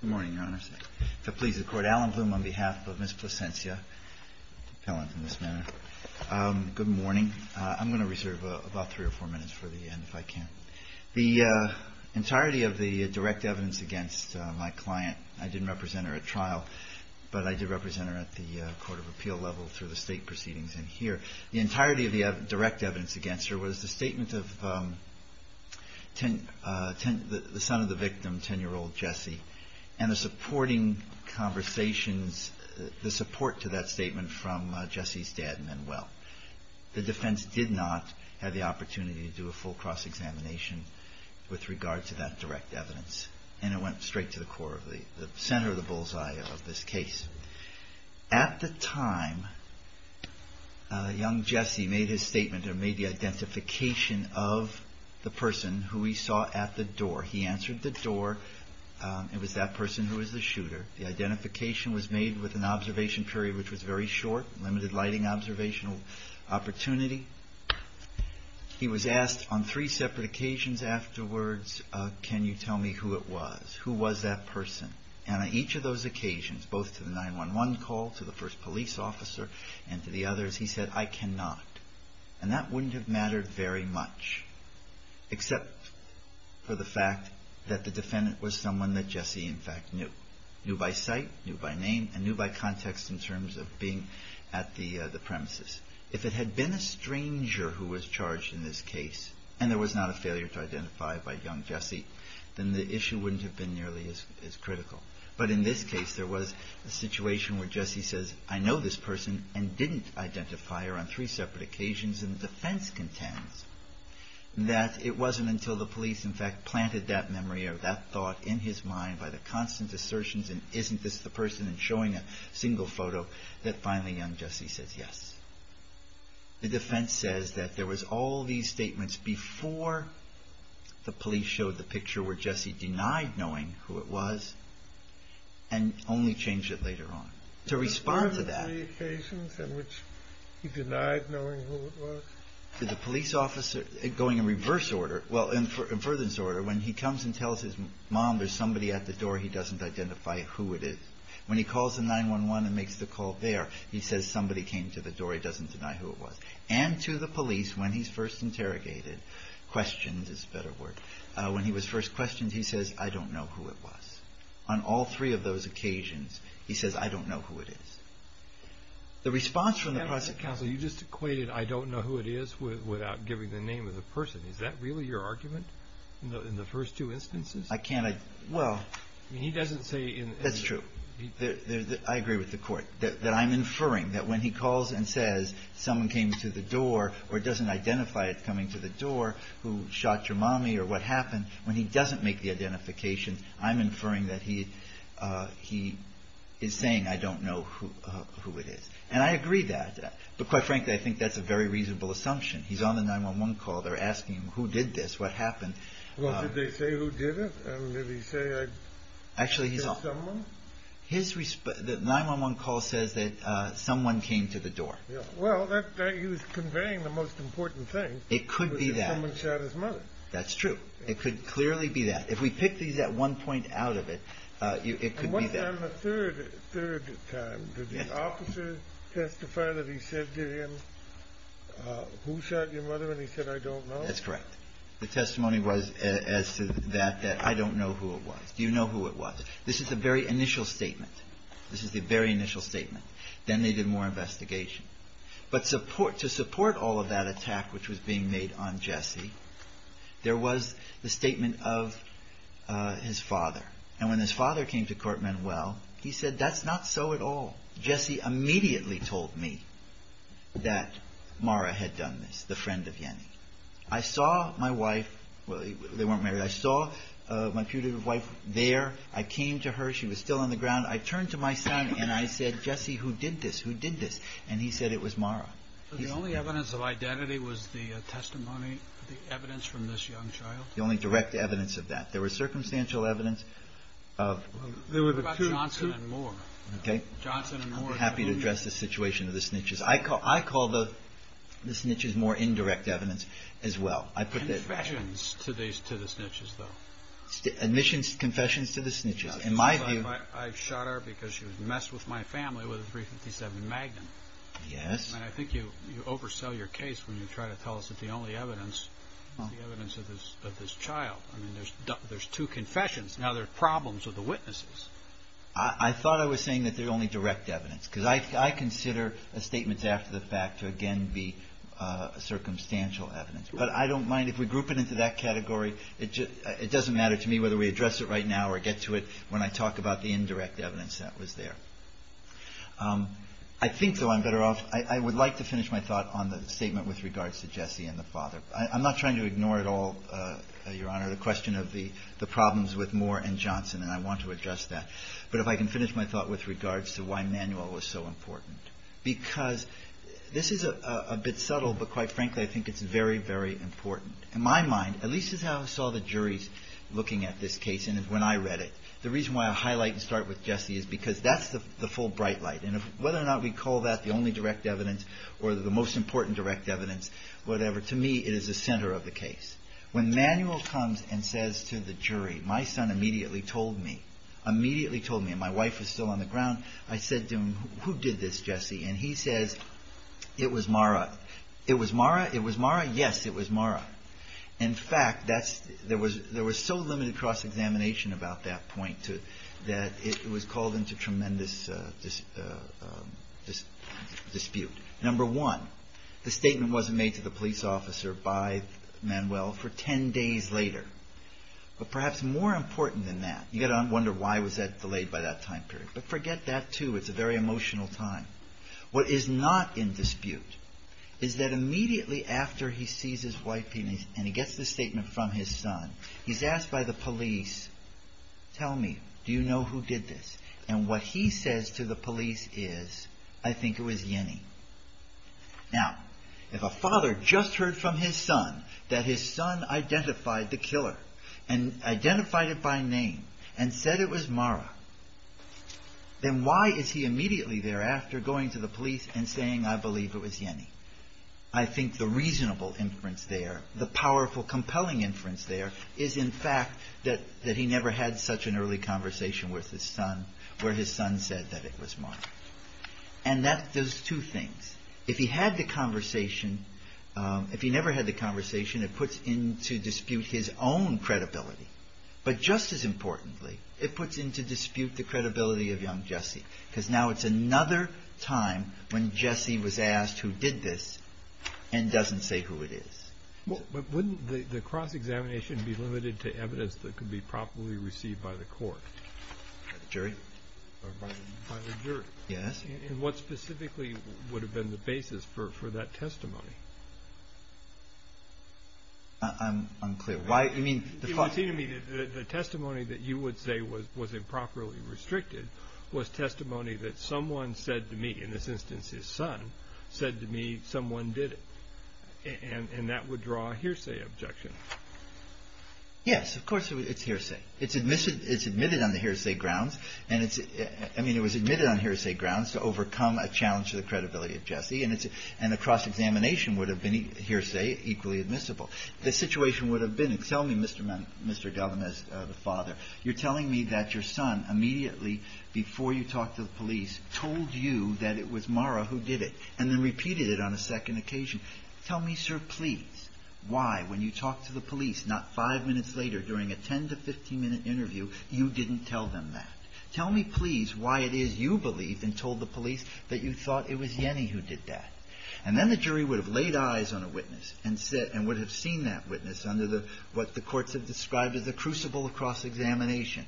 Good morning. I'm going to reserve about 3 or 4 minutes for the end if I can. The entirety of the direct evidence against my client, I didn't represent her at trial, but I did represent her at the Court of Appeal level through the state proceedings in here. The entirety of the direct evidence against her was the statement of the son of the victim, a 10-year-old boy, who had a gunshot wound to the head. I'm going to reserve about 3 or 4 minutes for the end if I can. and the supporting conversations, the support to that statement from Jesse's dad, Manuel. The defense did not have the opportunity to do a full cross-examination with regard to that direct evidence and it went straight to the center of the bullseye of this case. At the time, young Jesse made his statement, made the identification of the person who he saw at the door. He answered the door. It was that person who was the shooter. The identification was made with an observation period which was very short, limited lighting observational opportunity. He was asked on three separate occasions afterwards, can you tell me who it was? Who was that person? And on each of those occasions, both to the 911 call, to the first police officer, and to the others, he said, I cannot. And that wouldn't have mattered very much, except for the fact that the defendant was someone that Jesse in fact knew. Knew by sight, knew by name, and knew by context in terms of being at the premises. If it had been a stranger who was charged in this case, and there was not a failure to identify it by young Jesse, then the issue wouldn't have been nearly as critical. But in this case, there was a situation where Jesse says, I know this person, and didn't identify her on three separate occasions, and the defense contends that it wasn't until the police in fact planted that memory or that thought in his mind by the constant assertions, and isn't this the person, and showing a single photo, that finally young Jesse says yes. The defense says that there was all these statements before the police showed the picture where Jesse denied knowing who it was, and only changed it later on. To respond to that. To the police officer, going in reverse order, well in further disorder, when he comes and tells his mom there's somebody at the door, he doesn't identify who it is. When he calls the 911 and makes the call there, he says somebody came to the door, he doesn't deny who it was. And to the police when he's first interrogated, questions is a better word, when he was first questioned, he says I don't know who it was. On all three of those occasions, he says I don't know who it is. The response from the process counsel. You just equated I don't know who it is without giving the name of the person. Is that really your argument? In the first two instances? I can't, well. I mean he doesn't say. That's true. I agree with the court. That I'm inferring that when he calls and says someone came to the door, or doesn't identify it coming to the door, who shot your mommy, or what happened, when he doesn't make the identification, I'm inferring that he is saying I don't know who it was. I don't know who it is. And I agree that. But quite frankly, I think that's a very reasonable assumption. He's on the 911 call, they're asking him who did this, what happened. Well, did they say who did it? And did he say I killed someone? His 911 call says that someone came to the door. Well, he was conveying the most important thing. It could be that. Someone shot his mother. That's true. It could clearly be that. If we pick these at one point out of it, it could be that. But on the third time, did the officer testify that he said to him, who shot your mother, and he said I don't know? That's correct. The testimony was as to that, that I don't know who it was. Do you know who it was? This is the very initial statement. This is the very initial statement. Then they did more investigation. But to support all of that attack which was being made on Jesse, there was the statement of his father. And when his father came to court, Manuel, he said that's not so at all. Jesse immediately told me that Mara had done this, the friend of Yenny. I saw my wife. Well, they weren't married. I saw my putative wife there. I came to her. She was still on the ground. I turned to my son, and I said, Jesse, who did this? Who did this? And he said it was Mara. The only evidence of identity was the testimony, the evidence from this young child? The only direct evidence of that. There was circumstantial evidence. What about Johnson and Moore? I'm happy to address the situation of the snitches. I call the snitches more indirect evidence as well. Confessions to the snitches, though. Admissions, confessions to the snitches. I shot her because she messed with my family with a .357 Magnum. And I think you oversell your case when you try to tell us that the only evidence is the evidence of this child. I mean, there's two confessions. Now there are problems with the witnesses. I thought I was saying that they're only direct evidence, because I consider statements after the fact to again be circumstantial evidence. But I don't mind if we group it into that category. It doesn't matter to me whether we address it right now or get to it when I talk about the indirect evidence that was there. I think, though, I'm better off, I would like to finish my thought on the statement with regards to Jesse and the father. I'm not trying to ignore at all, Your Honor, the question of the problems with Moore and Johnson, and I want to address that. But if I can finish my thought with regards to why Manuel was so important. Because this is a bit subtle, but quite frankly, I think it's very, very important. In my mind, at least as I saw the juries looking at this case and when I read it, the reason why I highlight and start with Jesse is because that's the full bright light. And whether or not we call that the only direct evidence or the most important direct evidence, whatever, to me, it is the center of the case. When Manuel comes and says to the jury, my son immediately told me, immediately told me, and my wife is still on the ground, I said to him, who did this, Jesse? And he says, it was Mara. It was Mara? It was Mara? Yes, it was Mara. In fact, there was so limited cross-examination about that point that it was called into tremendous dispute. Number one, the statement wasn't made to the police officer by Manuel for ten days later. But perhaps more important than that, you got to wonder why was that delayed by that time period. But forget that, too. It's a very emotional time. What is not in dispute is that immediately after he sees his wife and he gets the statement from his son, he's asked by the police, tell me, do you know who did this? And what he says to the police is, I think it was Yenny. Now, if a father just heard from his son that his son identified the killer and identified it by name and said it was Mara, then why is he immediately thereafter going to the police and saying, I believe it was Yenny? I think the reasonable inference there, the powerful, compelling inference there, is in fact that he never had such an early conversation with his son where his son said that it was Mara. And that does two things. If he had the conversation, if he never had the conversation, it puts into dispute his own credibility. But just as importantly, it puts into dispute the credibility of young Jesse, because now it's another time when Jesse was asked who did this and doesn't say who it is. But wouldn't the cross-examination be limited to evidence that could be properly received by the court? By the jury? By the jury. Yes. And what specifically would have been the basis for that testimony? I'm unclear. It would seem to me that the testimony that you would say was improperly restricted was testimony that someone said to me, in this instance his son, said to me someone did it. And that would draw a hearsay objection. Yes, of course it's hearsay. It's admitted on the hearsay grounds. I mean, it was admitted on hearsay grounds to overcome a challenge to the credibility of Jesse. And a cross-examination would have been hearsay equally admissible. The situation would have been, tell me, Mr. Gellman, as the father, you're telling me that your son immediately, before you talked to the police, told you that it was Mara who did it, and then repeated it on a second occasion. Tell me, sir, please, why, when you talked to the police not five minutes later during a 10 to 15-minute interview, you didn't tell them that. Tell me, please, why it is you believe and told the police that you thought it was Yenny who did that. And then the jury would have laid eyes on a witness and would have seen that witness under what the courts have described as a crucible of cross-examination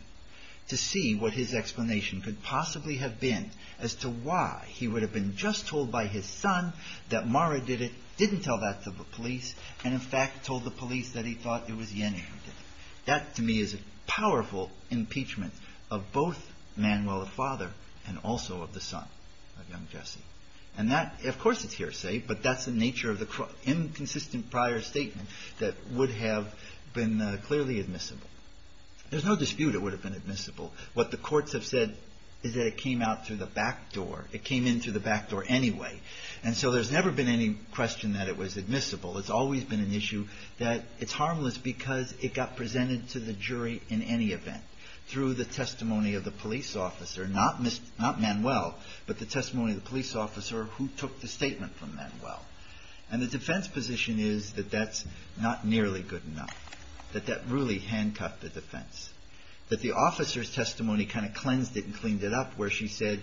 to see what his explanation could possibly have been as to why he would have been just told by his son that Mara did it, didn't tell that to the police, and in fact told the police that he thought it was Yenny who did it. That, to me, is a powerful impeachment of both Manuel, the father, and also of the son of young Jesse. And that, of course, is hearsay, but that's the nature of the inconsistent prior statement that would have been clearly admissible. There's no dispute it would have been admissible. What the courts have said is that it came out through the back door. It came in through the back door anyway. And so there's never been any question that it was admissible. It's always been an issue that it's harmless because it got presented to the jury in any event through the testimony of the police officer, not Manuel, but the testimony of the police officer who took the statement from Manuel. And the defense position is that that's not nearly good enough, that that really handcuffed the defense, that the officer's testimony kind of cleansed it and cleaned it up where she said,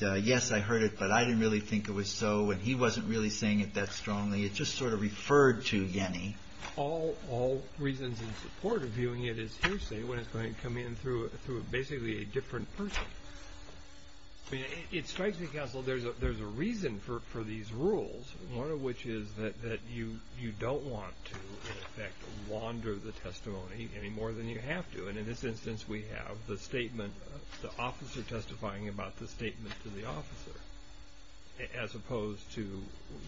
yes, I heard it, but I didn't really think it was so, and he wasn't really saying it that strongly. It just sort of referred to Yenny. All reasons in support of viewing it as hearsay when it's going to come in through basically a different person. I mean, it strikes me, counsel, there's a reason for these rules, one of which is that you don't want to, in effect, wander the testimony any more than you have to. And in this instance, we have the statement, the officer testifying about the statement to the officer, as opposed to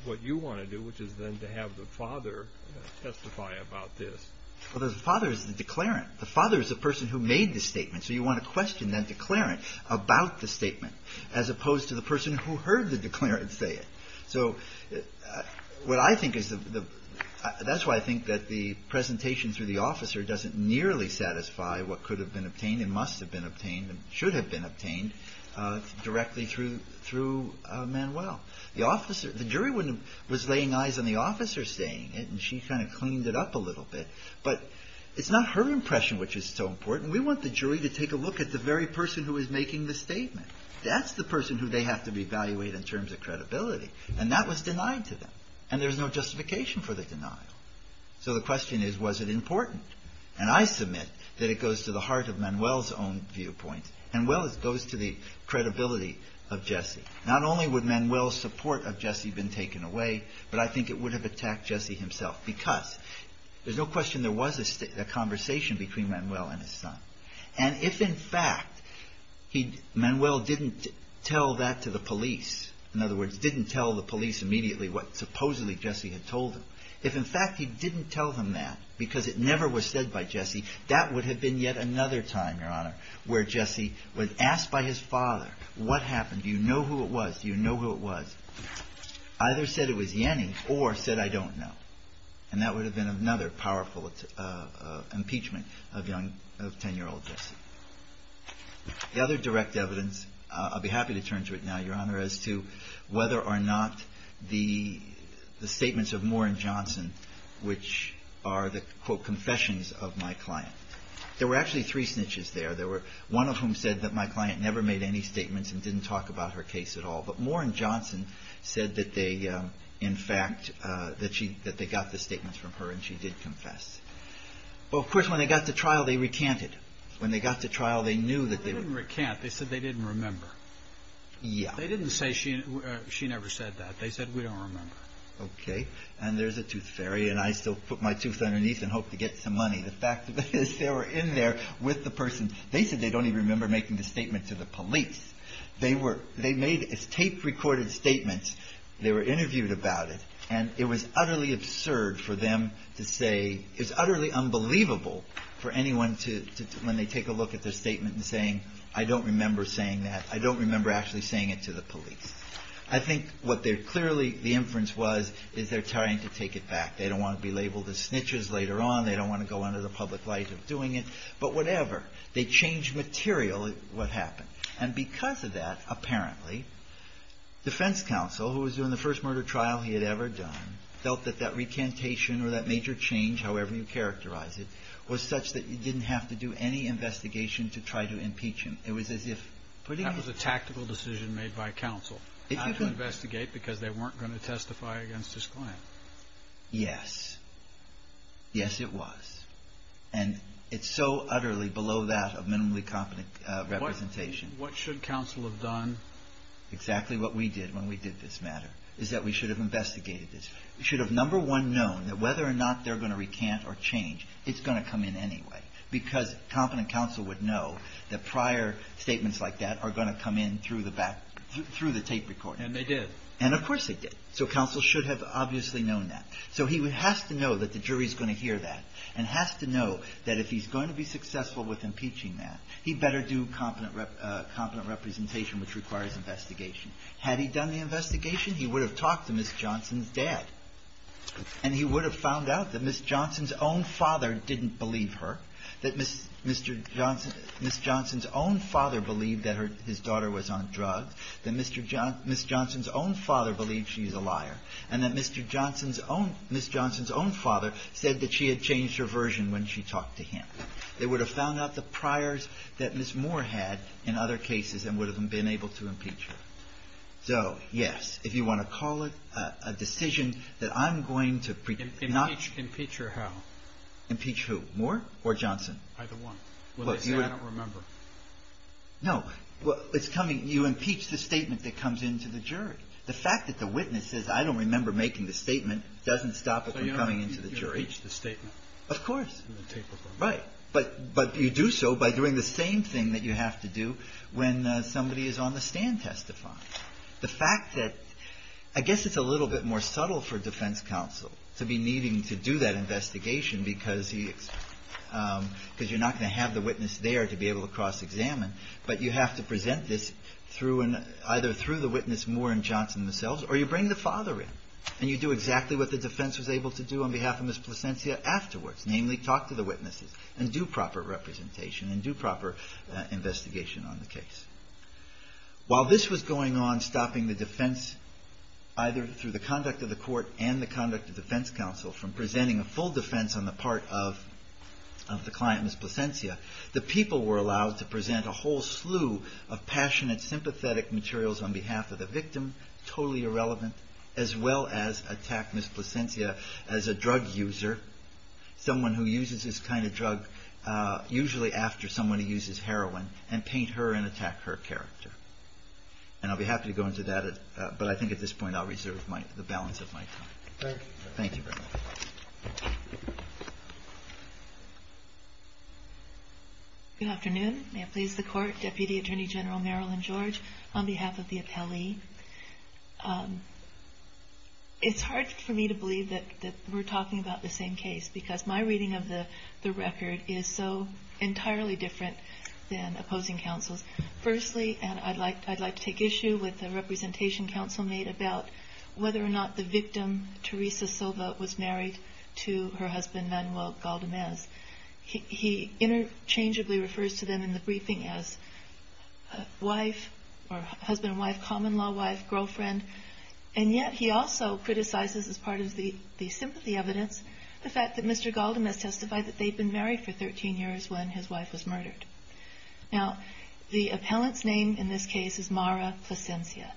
what you want to do, which is then to have the father testify about this. Well, the father is the declarant. The father is the person who made the statement. So you want to question that declarant about the statement, as opposed to the person who heard the declarant say it. So what I think is the – that's why I think that the presentation through the officer doesn't nearly satisfy what could have been obtained and must have been obtained and should have been obtained directly through Manuel. The officer – the jury was laying eyes on the officer saying it, and she kind of cleaned it up a little bit. But it's not her impression which is so important. We want the jury to take a look at the very person who is making the statement. That's the person who they have to evaluate in terms of credibility. And that was denied to them. And there's no justification for the denial. So the question is, was it important? And I submit that it goes to the heart of Manuel's own viewpoint, and well, it goes to the credibility of Jesse. Not only would Manuel's support of Jesse have been taken away, but I think it would have attacked Jesse himself, because there's no question there was a conversation between Manuel and his son. And if, in fact, Manuel didn't tell that to the police, in other words, didn't tell the police immediately what supposedly Jesse had told them, if, in fact, he didn't tell them that because it never was said by Jesse, that would have been yet another time, Your Honor, where Jesse was asked by his father, what happened? Do you know who it was? Do you know who it was? Either said it was Yanny or said, I don't know. And that would have been another powerful impeachment of 10-year-old Jesse. The other direct evidence, I'll be happy to turn to it now, Your Honor, as to whether or not the statements of Moore and Johnson, which are the, quote, confessions of my client. There were actually three snitches there. There were one of whom said that my client never made any statements and didn't talk about her case at all. But Moore and Johnson said that they, in fact, that she, that they got the statements from her and she did confess. Well, of course, when they got to trial, they recanted. When they got to trial, they knew that they were. They didn't recant. They said they didn't remember. Yeah. They didn't say she never said that. They said, we don't remember. Okay. And there's a tooth fairy, and I still put my tooth underneath and hope to get some money. The fact of it is they were in there with the person. They said they don't even remember making the statement to the police. They were, they made, it's taped, recorded statements. They were interviewed about it. And it was utterly absurd for them to say, it's utterly unbelievable for anyone to, when they take a look at their statement and saying, I don't remember saying that. I don't remember actually saying it to the police. I think what they're clearly, the inference was, is they're trying to take it back. They don't want to be labeled as snitches later on. They don't want to go under the public light of doing it. But whatever. They changed material what happened. And because of that, apparently, defense counsel, who was doing the first murder trial he had ever done, felt that that recantation or that major change, however you characterize it, was such that you didn't have to do any investigation to try to impeach him. It was as if putting him. That was a tactical decision made by counsel, not to investigate because they weren't going to testify against his client. Yes. Yes, it was. And it's so utterly below that of minimally competent representation. What should counsel have done? Exactly what we did when we did this matter, is that we should have investigated this. We should have, number one, known that whether or not they're going to recant or change, it's going to come in anyway. Because competent counsel would know that prior statements like that are going to come in through the back, through the tape recorder. And they did. And of course they did. So counsel should have obviously known that. So he has to know that the jury is going to hear that and has to know that if he's going to be successful with impeaching that, he better do competent representation, which requires investigation. Had he done the investigation, he would have talked to Ms. Johnson's dad, and he would have found out that Ms. Johnson's own father didn't believe her, that Ms. Johnson's own father believed that his daughter was on drugs, that Ms. Johnson's own father believed she's a liar, and that Mr. Johnson's own – Ms. Johnson's own father said that she had changed her version when she talked to him. They would have found out the priors that Ms. Moore had in other cases and would have been able to impeach her. So, yes, if you want to call it a decision that I'm going to – Impeach her how? Impeach who? Moore or Johnson? Either one. Well, they say I don't remember. It's coming – you impeach the statement that comes in to the jury. The fact that the witness says I don't remember making the statement doesn't stop it from coming into the jury. So you impeach the statement? Of course. Right. But you do so by doing the same thing that you have to do when somebody is on the stand testifying. The fact that – I guess it's a little bit more subtle for defense counsel to be needing to do that investigation because he – because you're not going to have the witness there to be able to cross-examine. But you have to present this through – either through the witness, Moore, and Johnson themselves, or you bring the father in. And you do exactly what the defense was able to do on behalf of Ms. Plasencia afterwards, namely talk to the witnesses and do proper representation and do proper investigation on the case. While this was going on stopping the defense, either through the conduct of the court and the conduct of defense counsel, from presenting a whole slew of passionate, sympathetic materials on behalf of the victim, totally irrelevant, as well as attack Ms. Plasencia as a drug user, someone who uses this kind of drug usually after someone who uses heroin, and paint her and attack her character. And I'll be happy to go into that, but I think at this point I'll reserve the balance of my time. Thank you. Thank you very much. Good afternoon. May it please the Court. Deputy Attorney General Marilyn George on behalf of the appellee. It's hard for me to believe that we're talking about the same case because my reading of the record is so entirely different than opposing counsels. Firstly, and I'd like to take issue with the representation counsel made about whether or not the victim, Teresa Silva, was married to her husband, Manuel Galdamez. He interchangeably refers to them in the briefing as wife or husband and wife, common-law wife, girlfriend. And yet he also criticizes, as part of the sympathy evidence, the fact that Mr. Galdamez testified that they'd been married for 13 years when his wife was murdered. Now, the appellant's name in this case is Mara Plasencia.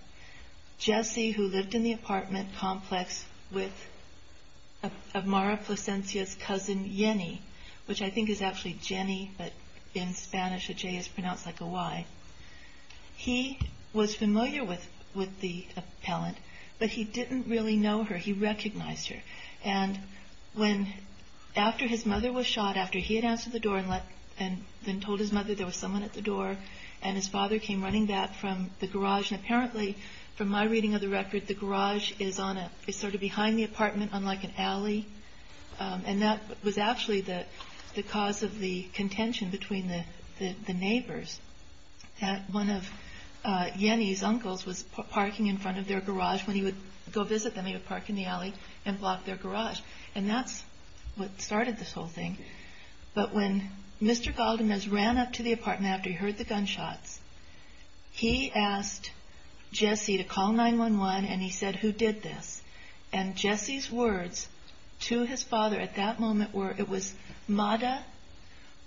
Jesse, who lived in the apartment complex of Mara Plasencia, his cousin Jenny, which I think is actually Jenny, but in Spanish a J is pronounced like a Y. He was familiar with the appellant, but he didn't really know her. He recognized her. And when, after his mother was shot, after he had answered the door and then told his mother there was someone at the door, and his father came running back from the garage, and apparently, from my reading of the record, the garage is sort of behind the apartment on like an alley. And that was actually the cause of the contention between the neighbors, that one of Jenny's uncles was parking in front of their garage. When he would go visit them, he would park in the alley and block their garage. And that's what started this whole thing. But when Mr. Galdamez ran up to the apartment after he heard the gunshots, he asked Jesse to call 911, and he said, who did this? And Jesse's words were, I don't know, I don't know. So, to him, that was the very moment, he said, no. And that was also what Jesse testified to his father at that moment, where it was Madda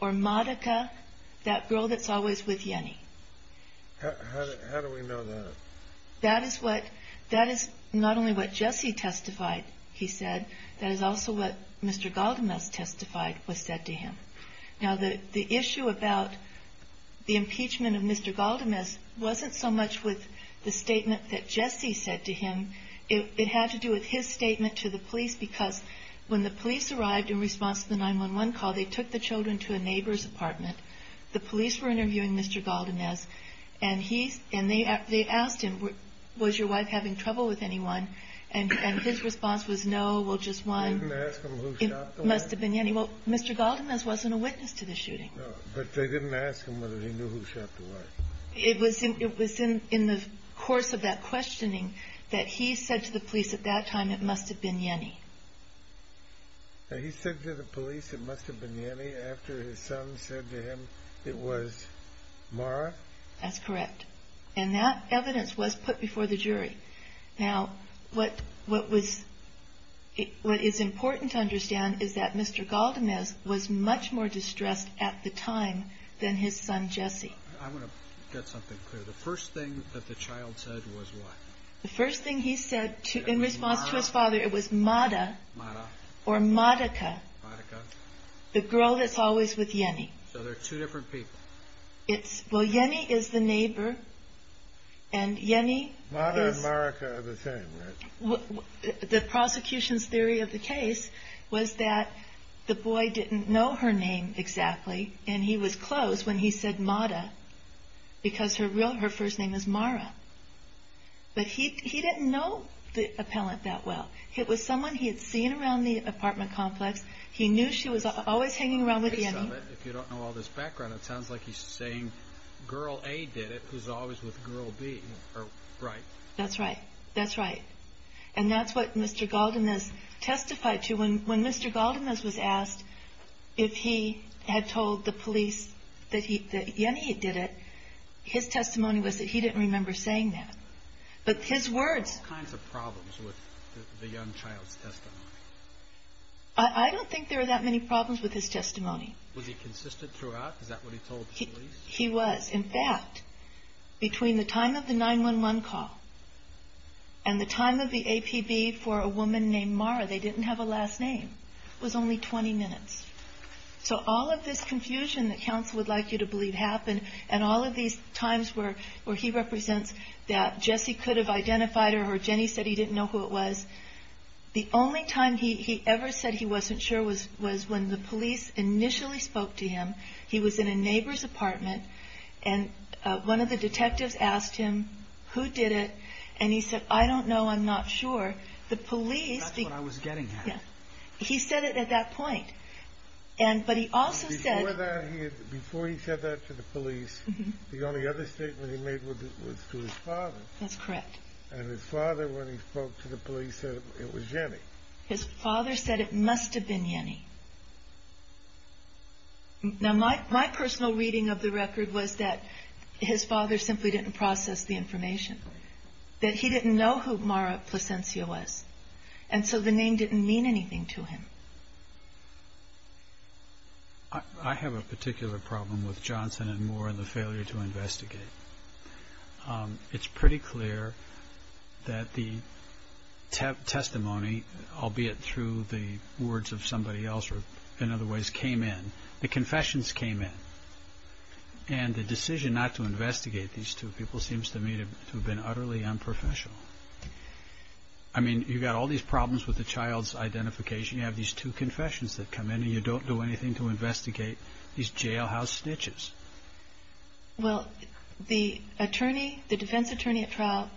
or Madaca, that girl that's always with Jenny. How do we know that? That is not only what Jesse testified, he said, that is also what Mr. Galdamez testified was said to him. Now, the issue about the impeachment of Madda was, when the police arrived in response to the 911 call, they took the children to a neighbor's apartment. The police were interviewing Mr. Galdamez, and they asked him, was your wife having trouble with anyone? And his response was, no, well, just one. It must have been Jenny. Well, Mr. Galdamez wasn't a witness to the shooting. No, but they didn't ask him whether he knew who shot the wife. It was in the course of that questioning that he said to the police at that time, it must have been Jenny. He said to the police it must have been Jenny after his son said to him it was Mara? That's correct. And that evidence was put before the jury. Now, what is important to understand is that Mr. Galdamez was much more distressed at the time than his son, Jesse. I want to get something clear. The first thing that the child said was what? The first thing he said in response to his father, it was Mada, or Madaca, the girl that's always with Jenny. So they're two different people. Well, Jenny is the neighbor, and Jenny is... The boy didn't know her name exactly, and he was close when he said Mada, because her first name is Mara. But he didn't know the appellant that well. It was someone he had seen around the apartment complex. He knew she was always hanging around with Jenny. If you don't know all this background, it sounds like he's saying girl A did it, who's always with girl B. That's right. That's right. And that's what Mr. Galdamez testified to. When Mr. Galdamez was asked if he had told the police that Jenny did it, his testimony was that he didn't remember saying that. But his words... I don't think there were that many problems with his testimony. Was he consistent throughout? Is that what he told the police? He was. In fact, between the time of the 911 call and the time of the APB for a woman named Mara, they didn't have a last name. It was only 20 minutes. So all of this confusion that counsel would like you to believe happened, and all of these times where he represents that Jesse could have identified her or Jenny said he didn't know who it was. The only time he ever said he wasn't sure was when the police initially spoke to him. He was in a neighbor's apartment and one of the detectives asked him who did it. And he said, I don't know. I'm not sure. The police... He said it at that point. Before he said that to the police, the only other statement he made was to his father. And his father, when he spoke to the police, said it was Jenny. His father said it must have been Jenny. Now, my personal reading of the record was that his father simply didn't process the information. That he didn't know who Mara Placencia was. And so the name didn't mean anything to him. I have a particular problem with Johnson and Moore and the failure to investigate. It's pretty clear that the testimony, albeit through the words of somebody else, or in other ways, came in. The confessions came in. And the decision not to investigate these two people seems to me to have been utterly unprofessional. I mean, you've got all these problems with the child's identification. You have these two confessions that come in and you don't do anything to investigate these jailhouse snitches. Well, the defense attorney at trial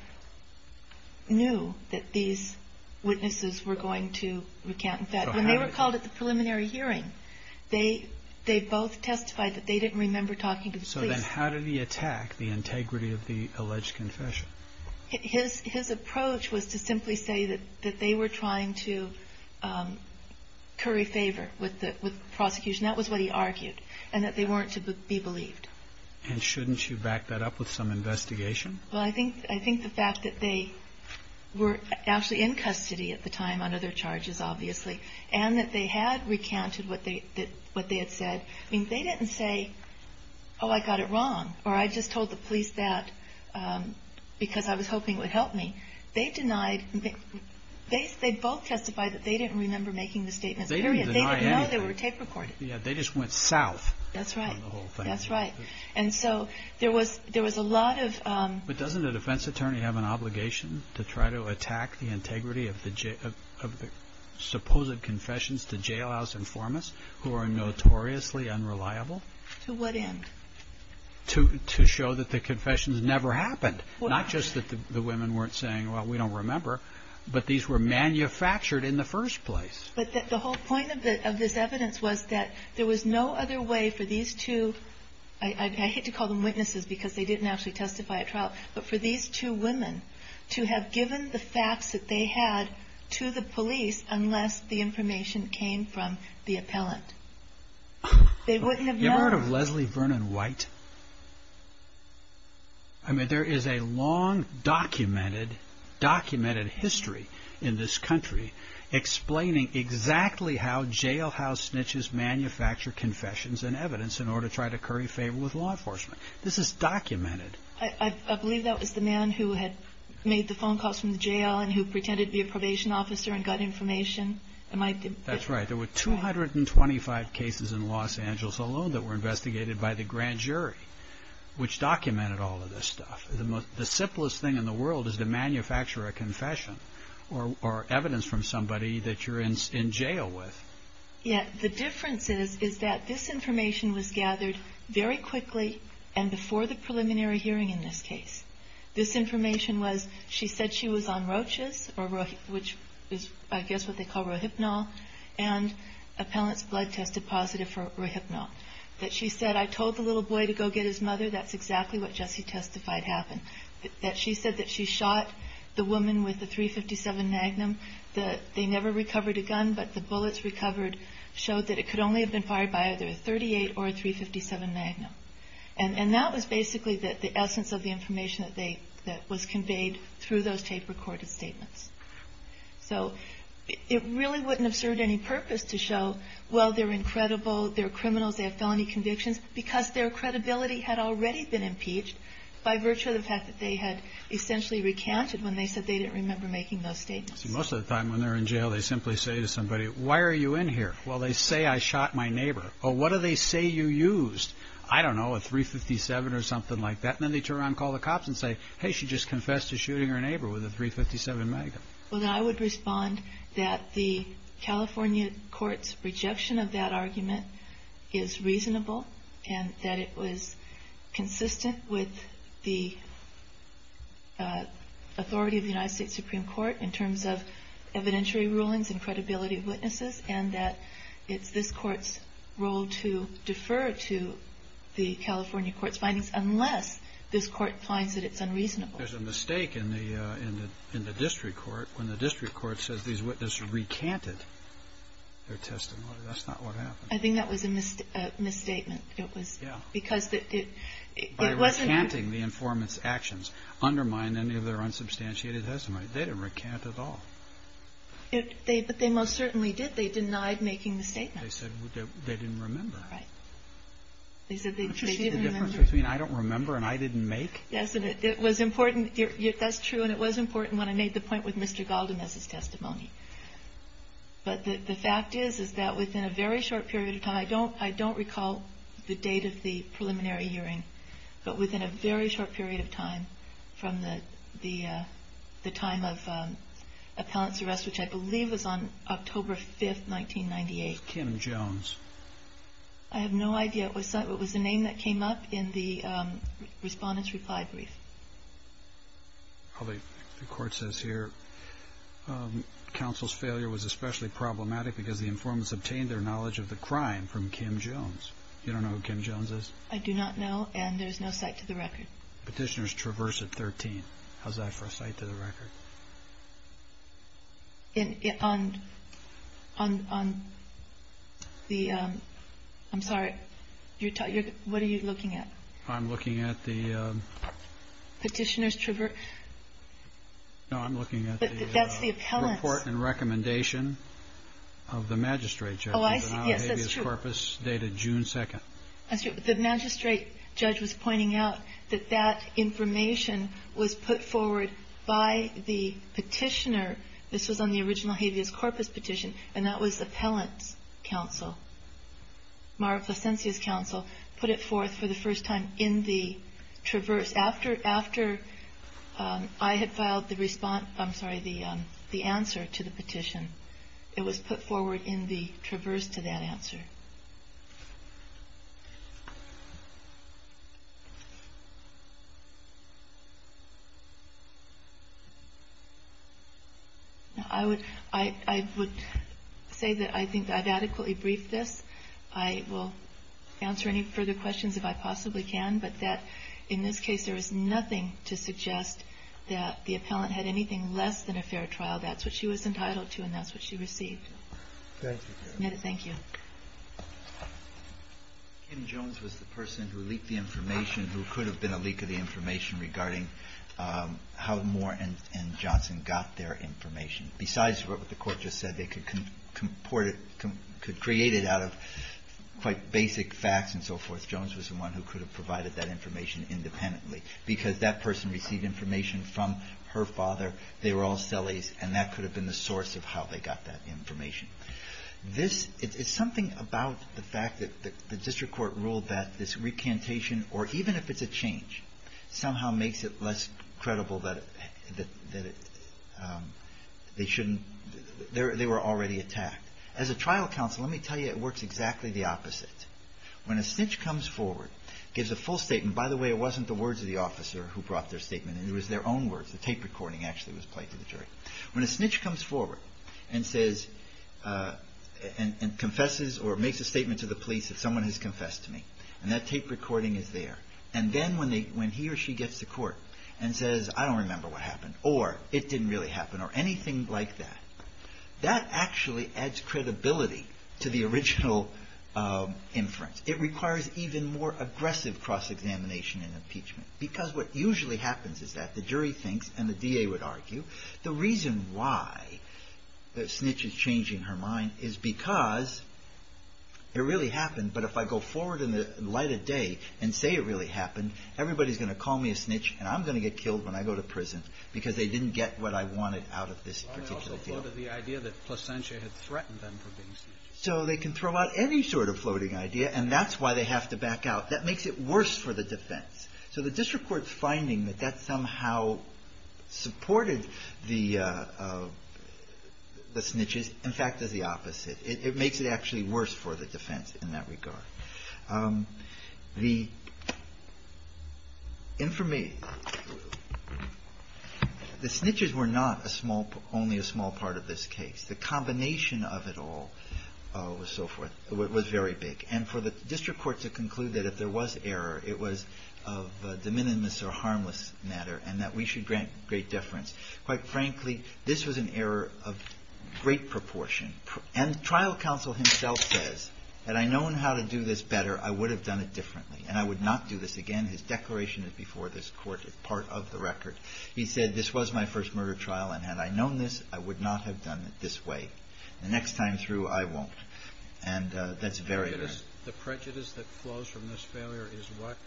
knew that these witnesses were going to recant. When they were called at the preliminary hearing, they both testified that they didn't remember talking to the police. So then how did he attack the integrity of the alleged confession? His approach was to simply say that they were trying to curry favor with the prosecution. That was what he argued, and that they weren't to be believed. And shouldn't you back that up with some investigation? Well, I think the fact that they were actually in custody at the time on other charges, obviously, and that they had recounted what they had said. I mean, they didn't say, oh, I got it wrong, or I just told the police that because I was hoping it would help me. They both testified that they didn't remember making the statements, period. They didn't deny anything. No, they were tape recorded. Yeah, they just went south on the whole thing. That's right. But doesn't a defense attorney have an obligation to try to attack the integrity of the supposed confessions to jailhouse informants who are notoriously unreliable? To what end? To show that the confessions never happened. Not just that the women weren't saying, well, we don't remember, but these were manufactured in the first place. But the whole point of this evidence was that there was no other way for these two, I hate to call them witnesses because they didn't actually testify at trial, but for these two women to have given the facts that they had to the police unless the information came from the appellant. They wouldn't have known. You ever heard of Leslie Vernon White? I mean, there is a long documented, documented history in this country explaining exactly how jailhouse snitches manufacture confessions and evidence in order to try to curry favor with law enforcement. This is documented. I believe that was the man who had made the phone calls from the jail and who pretended to be a probation officer and got information. That's right. There were 225 cases in Los Angeles alone that were investigated by the grand jury, which documented all of this stuff. The simplest thing in the world is to manufacture a confession or evidence from somebody that you're in jail with. Yeah. The difference is that this information was gathered very quickly and before the preliminary hearing in this case. This information was, she said she was on roaches, which is I guess what they call rohypnol, and appellant's blood tested positive for rohypnol. That she said, I told the little boy to go get his mother. That's exactly what Jesse testified happened. That she said that she shot the woman with the .357 Magnum. They never recovered a gun, but the bullets recovered showed that it could only have been fired by either a .38 or a .357 Magnum. And that was basically the essence of the information that was conveyed through those tape-recorded statements. So it really wouldn't have served any purpose to show, well, they're incredible, they're criminals, they have felony convictions, because their credibility had already been impeached by virtue of the fact that they had essentially recounted when they said they didn't remember making those statements. Most of the time when they're in jail, they simply say to somebody, why are you in here? Well, they say I shot my neighbor. Well, what do they say you used? I don't know, a .357 or something like that. And then they turn around and call the cops and say, hey, she just confessed to shooting her neighbor with a .357 Magnum. Well, then I would respond that the California court's rejection of that argument is reasonable and that it was consistent with the authority of the United States Supreme Court and that it's this court's role to defer to the California court's findings unless this court finds that it's unreasonable. There's a mistake in the district court when the district court says these witnesses recanted their testimony. That's not what happened. I think that was a misstatement. Yeah. Because it wasn't... By recanting the informant's actions undermine any of their unsubstantiated testimony. They didn't recant at all. But they most certainly did. They denied making the statement. They said they didn't remember. Right. They said they didn't remember. The difference between I don't remember and I didn't make? Yes. And it was important. That's true. And it was important when I made the point with Mr. Galdin as his testimony. But the fact is, is that within a very short period of time, I don't recall the date of the preliminary hearing, but within a very short period of time from the time of appellant's arrest, which I believe was on October 5, 1998. Kim Jones. I have no idea. It was the name that came up in the respondent's reply brief. The court says here, counsel's failure was especially problematic because the informant's obtained their knowledge of the crime from Kim Jones. You don't know who Kim Jones is? I do not know, and there's no cite to the record. Petitioner's traverse at 13. How's that for a cite to the record? On the, I'm sorry, what are you looking at? I'm looking at the. Petitioner's traverse. No, I'm looking at the. That's the appellant's. Report and recommendation of the magistrate judge. Oh, I see. Yes, that's true. Corpus dated June 2. That's true. The magistrate judge was pointing out that that information was put forward by the petitioner. This was on the original habeas corpus petition, and that was the appellant's counsel, Mara Placencia's counsel, put it forth for the first time in the traverse. After I had filed the response, I'm sorry, the answer to the petition, it was put forward in the traverse to that answer. I would say that I think I've adequately briefed this. I will answer any further questions if I possibly can, but that in this case there is nothing to suggest that the appellant had anything less than a fair trial. That's what she was entitled to, and that's what she received. Thank you. Kim Jones was the person who leaked the information, who could have been a leak of the information regarding how Moore and Johnson got their information. Besides what the Court just said, they could create it out of quite basic facts and so forth. Jones was the one who could have provided that information independently because that person received information from her father. They were all sellies, and that could have been the source of how they got that information. This is something about the fact that the district court ruled that this recantation or even if it's a change somehow makes it less credible that they shouldn't they were already attacked. As a trial counsel, let me tell you it works exactly the opposite. When a snitch comes forward, gives a full statement, by the way, it wasn't the words of the officer who brought their statement. It was their own words. The tape recording actually was played to the jury. When a snitch comes forward and confesses or makes a statement to the police that someone has confessed to me, and that tape recording is there, and then when he or she gets to court and says, I don't remember what happened or it didn't really happen or anything like that, that actually adds credibility to the original inference. It requires even more aggressive cross-examination in impeachment because what usually happens is that the jury thinks and the D.A. would argue the reason why the snitch is changing her mind is because it really happened, but if I go forward in the light of day and say it really happened, everybody's going to call me a snitch and I'm going to get killed when I go to prison because they didn't get what I wanted out of this particular deal. So they can throw out any sort of floating idea and that's why they have to back out. That makes it worse for the defense. So the district court's finding that that somehow supported the snitches, in fact, is the opposite. It makes it actually worse for the defense in that regard. The information, the snitches were not a small – only a small part of this case. The combination of it all was so forth – was very big. And for the district court to conclude that if there was error, it was of a de minimis or harmless matter and that we should grant great deference. Quite frankly, this was an error of great proportion. And the trial counsel himself says, had I known how to do this better, I would have done it differently and I would not do this again. His declaration is before this court as part of the record. He said, this was my first murder trial and had I known this, I would not have done it this way. The next time through, I won't. And that's very – The prejudice that flows from this failure is what?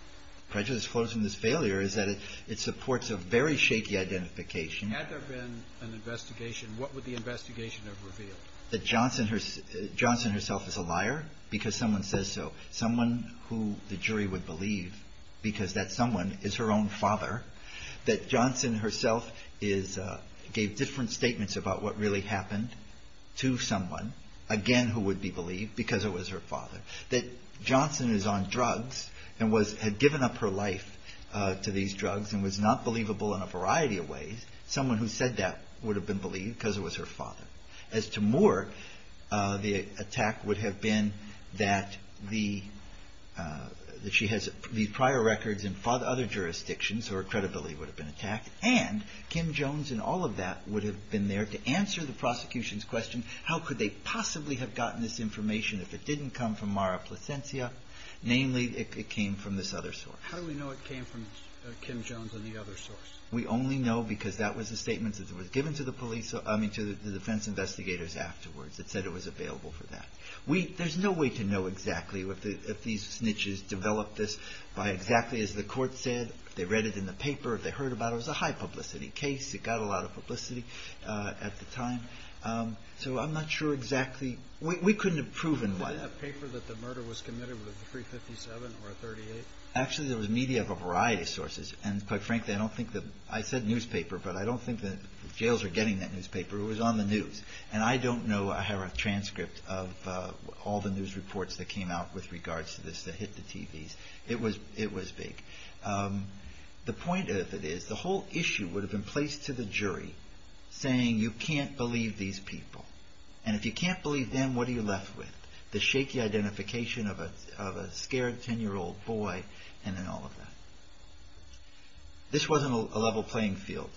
Prejudice flows from this failure is that it supports a very shaky identification. Had there been an investigation, what would the investigation have revealed? That Johnson herself is a liar because someone says so. Someone who the jury would believe because that someone is her own father. That Johnson herself is – gave different statements about what really happened to someone, again, who would be believed because it was her father. That Johnson is on drugs and had given up her life to these drugs and was not believable in a variety of ways. Someone who said that would have been believed because it was her father. As to Moore, the attack would have been that the – that she has these prior records in other jurisdictions, so her credibility would have been attacked. And Kim Jones and all of that would have been there to answer the prosecution's question, how could they possibly have gotten this information if it didn't come from Mara Placencia? Namely, it came from this other source. How do we know it came from Kim Jones and the other source? We only know because that was a statement that was given to the police – I mean, to the defense investigators afterwards. It said it was available for that. We – there's no way to know exactly if these snitches developed this by exactly as the court said. If they read it in the paper, if they heard about it, it was a high-publicity case. It got a lot of publicity at the time. So I'm not sure exactly – we couldn't have proven why. Did they have paper that the murder was committed with a 357 or a 38? Actually, there was media of a variety of sources. And quite frankly, I don't think that – I said newspaper, but I don't think that jails are getting that newspaper. It was on the news. And I don't know – I have a transcript of all the news reports that came out with regards to this that hit the TVs. It was big. The point of it is the whole issue would have been placed to the jury saying you can't believe these people. And if you can't believe them, what are you left with? The shaky identification of a scared 10-year-old boy and then all of that. This wasn't a level playing field.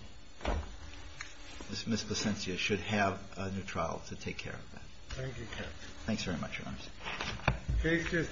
Ms. Placencia should have a new trial to take care of that. Thank you, Captain. Thanks very much, Your Honor.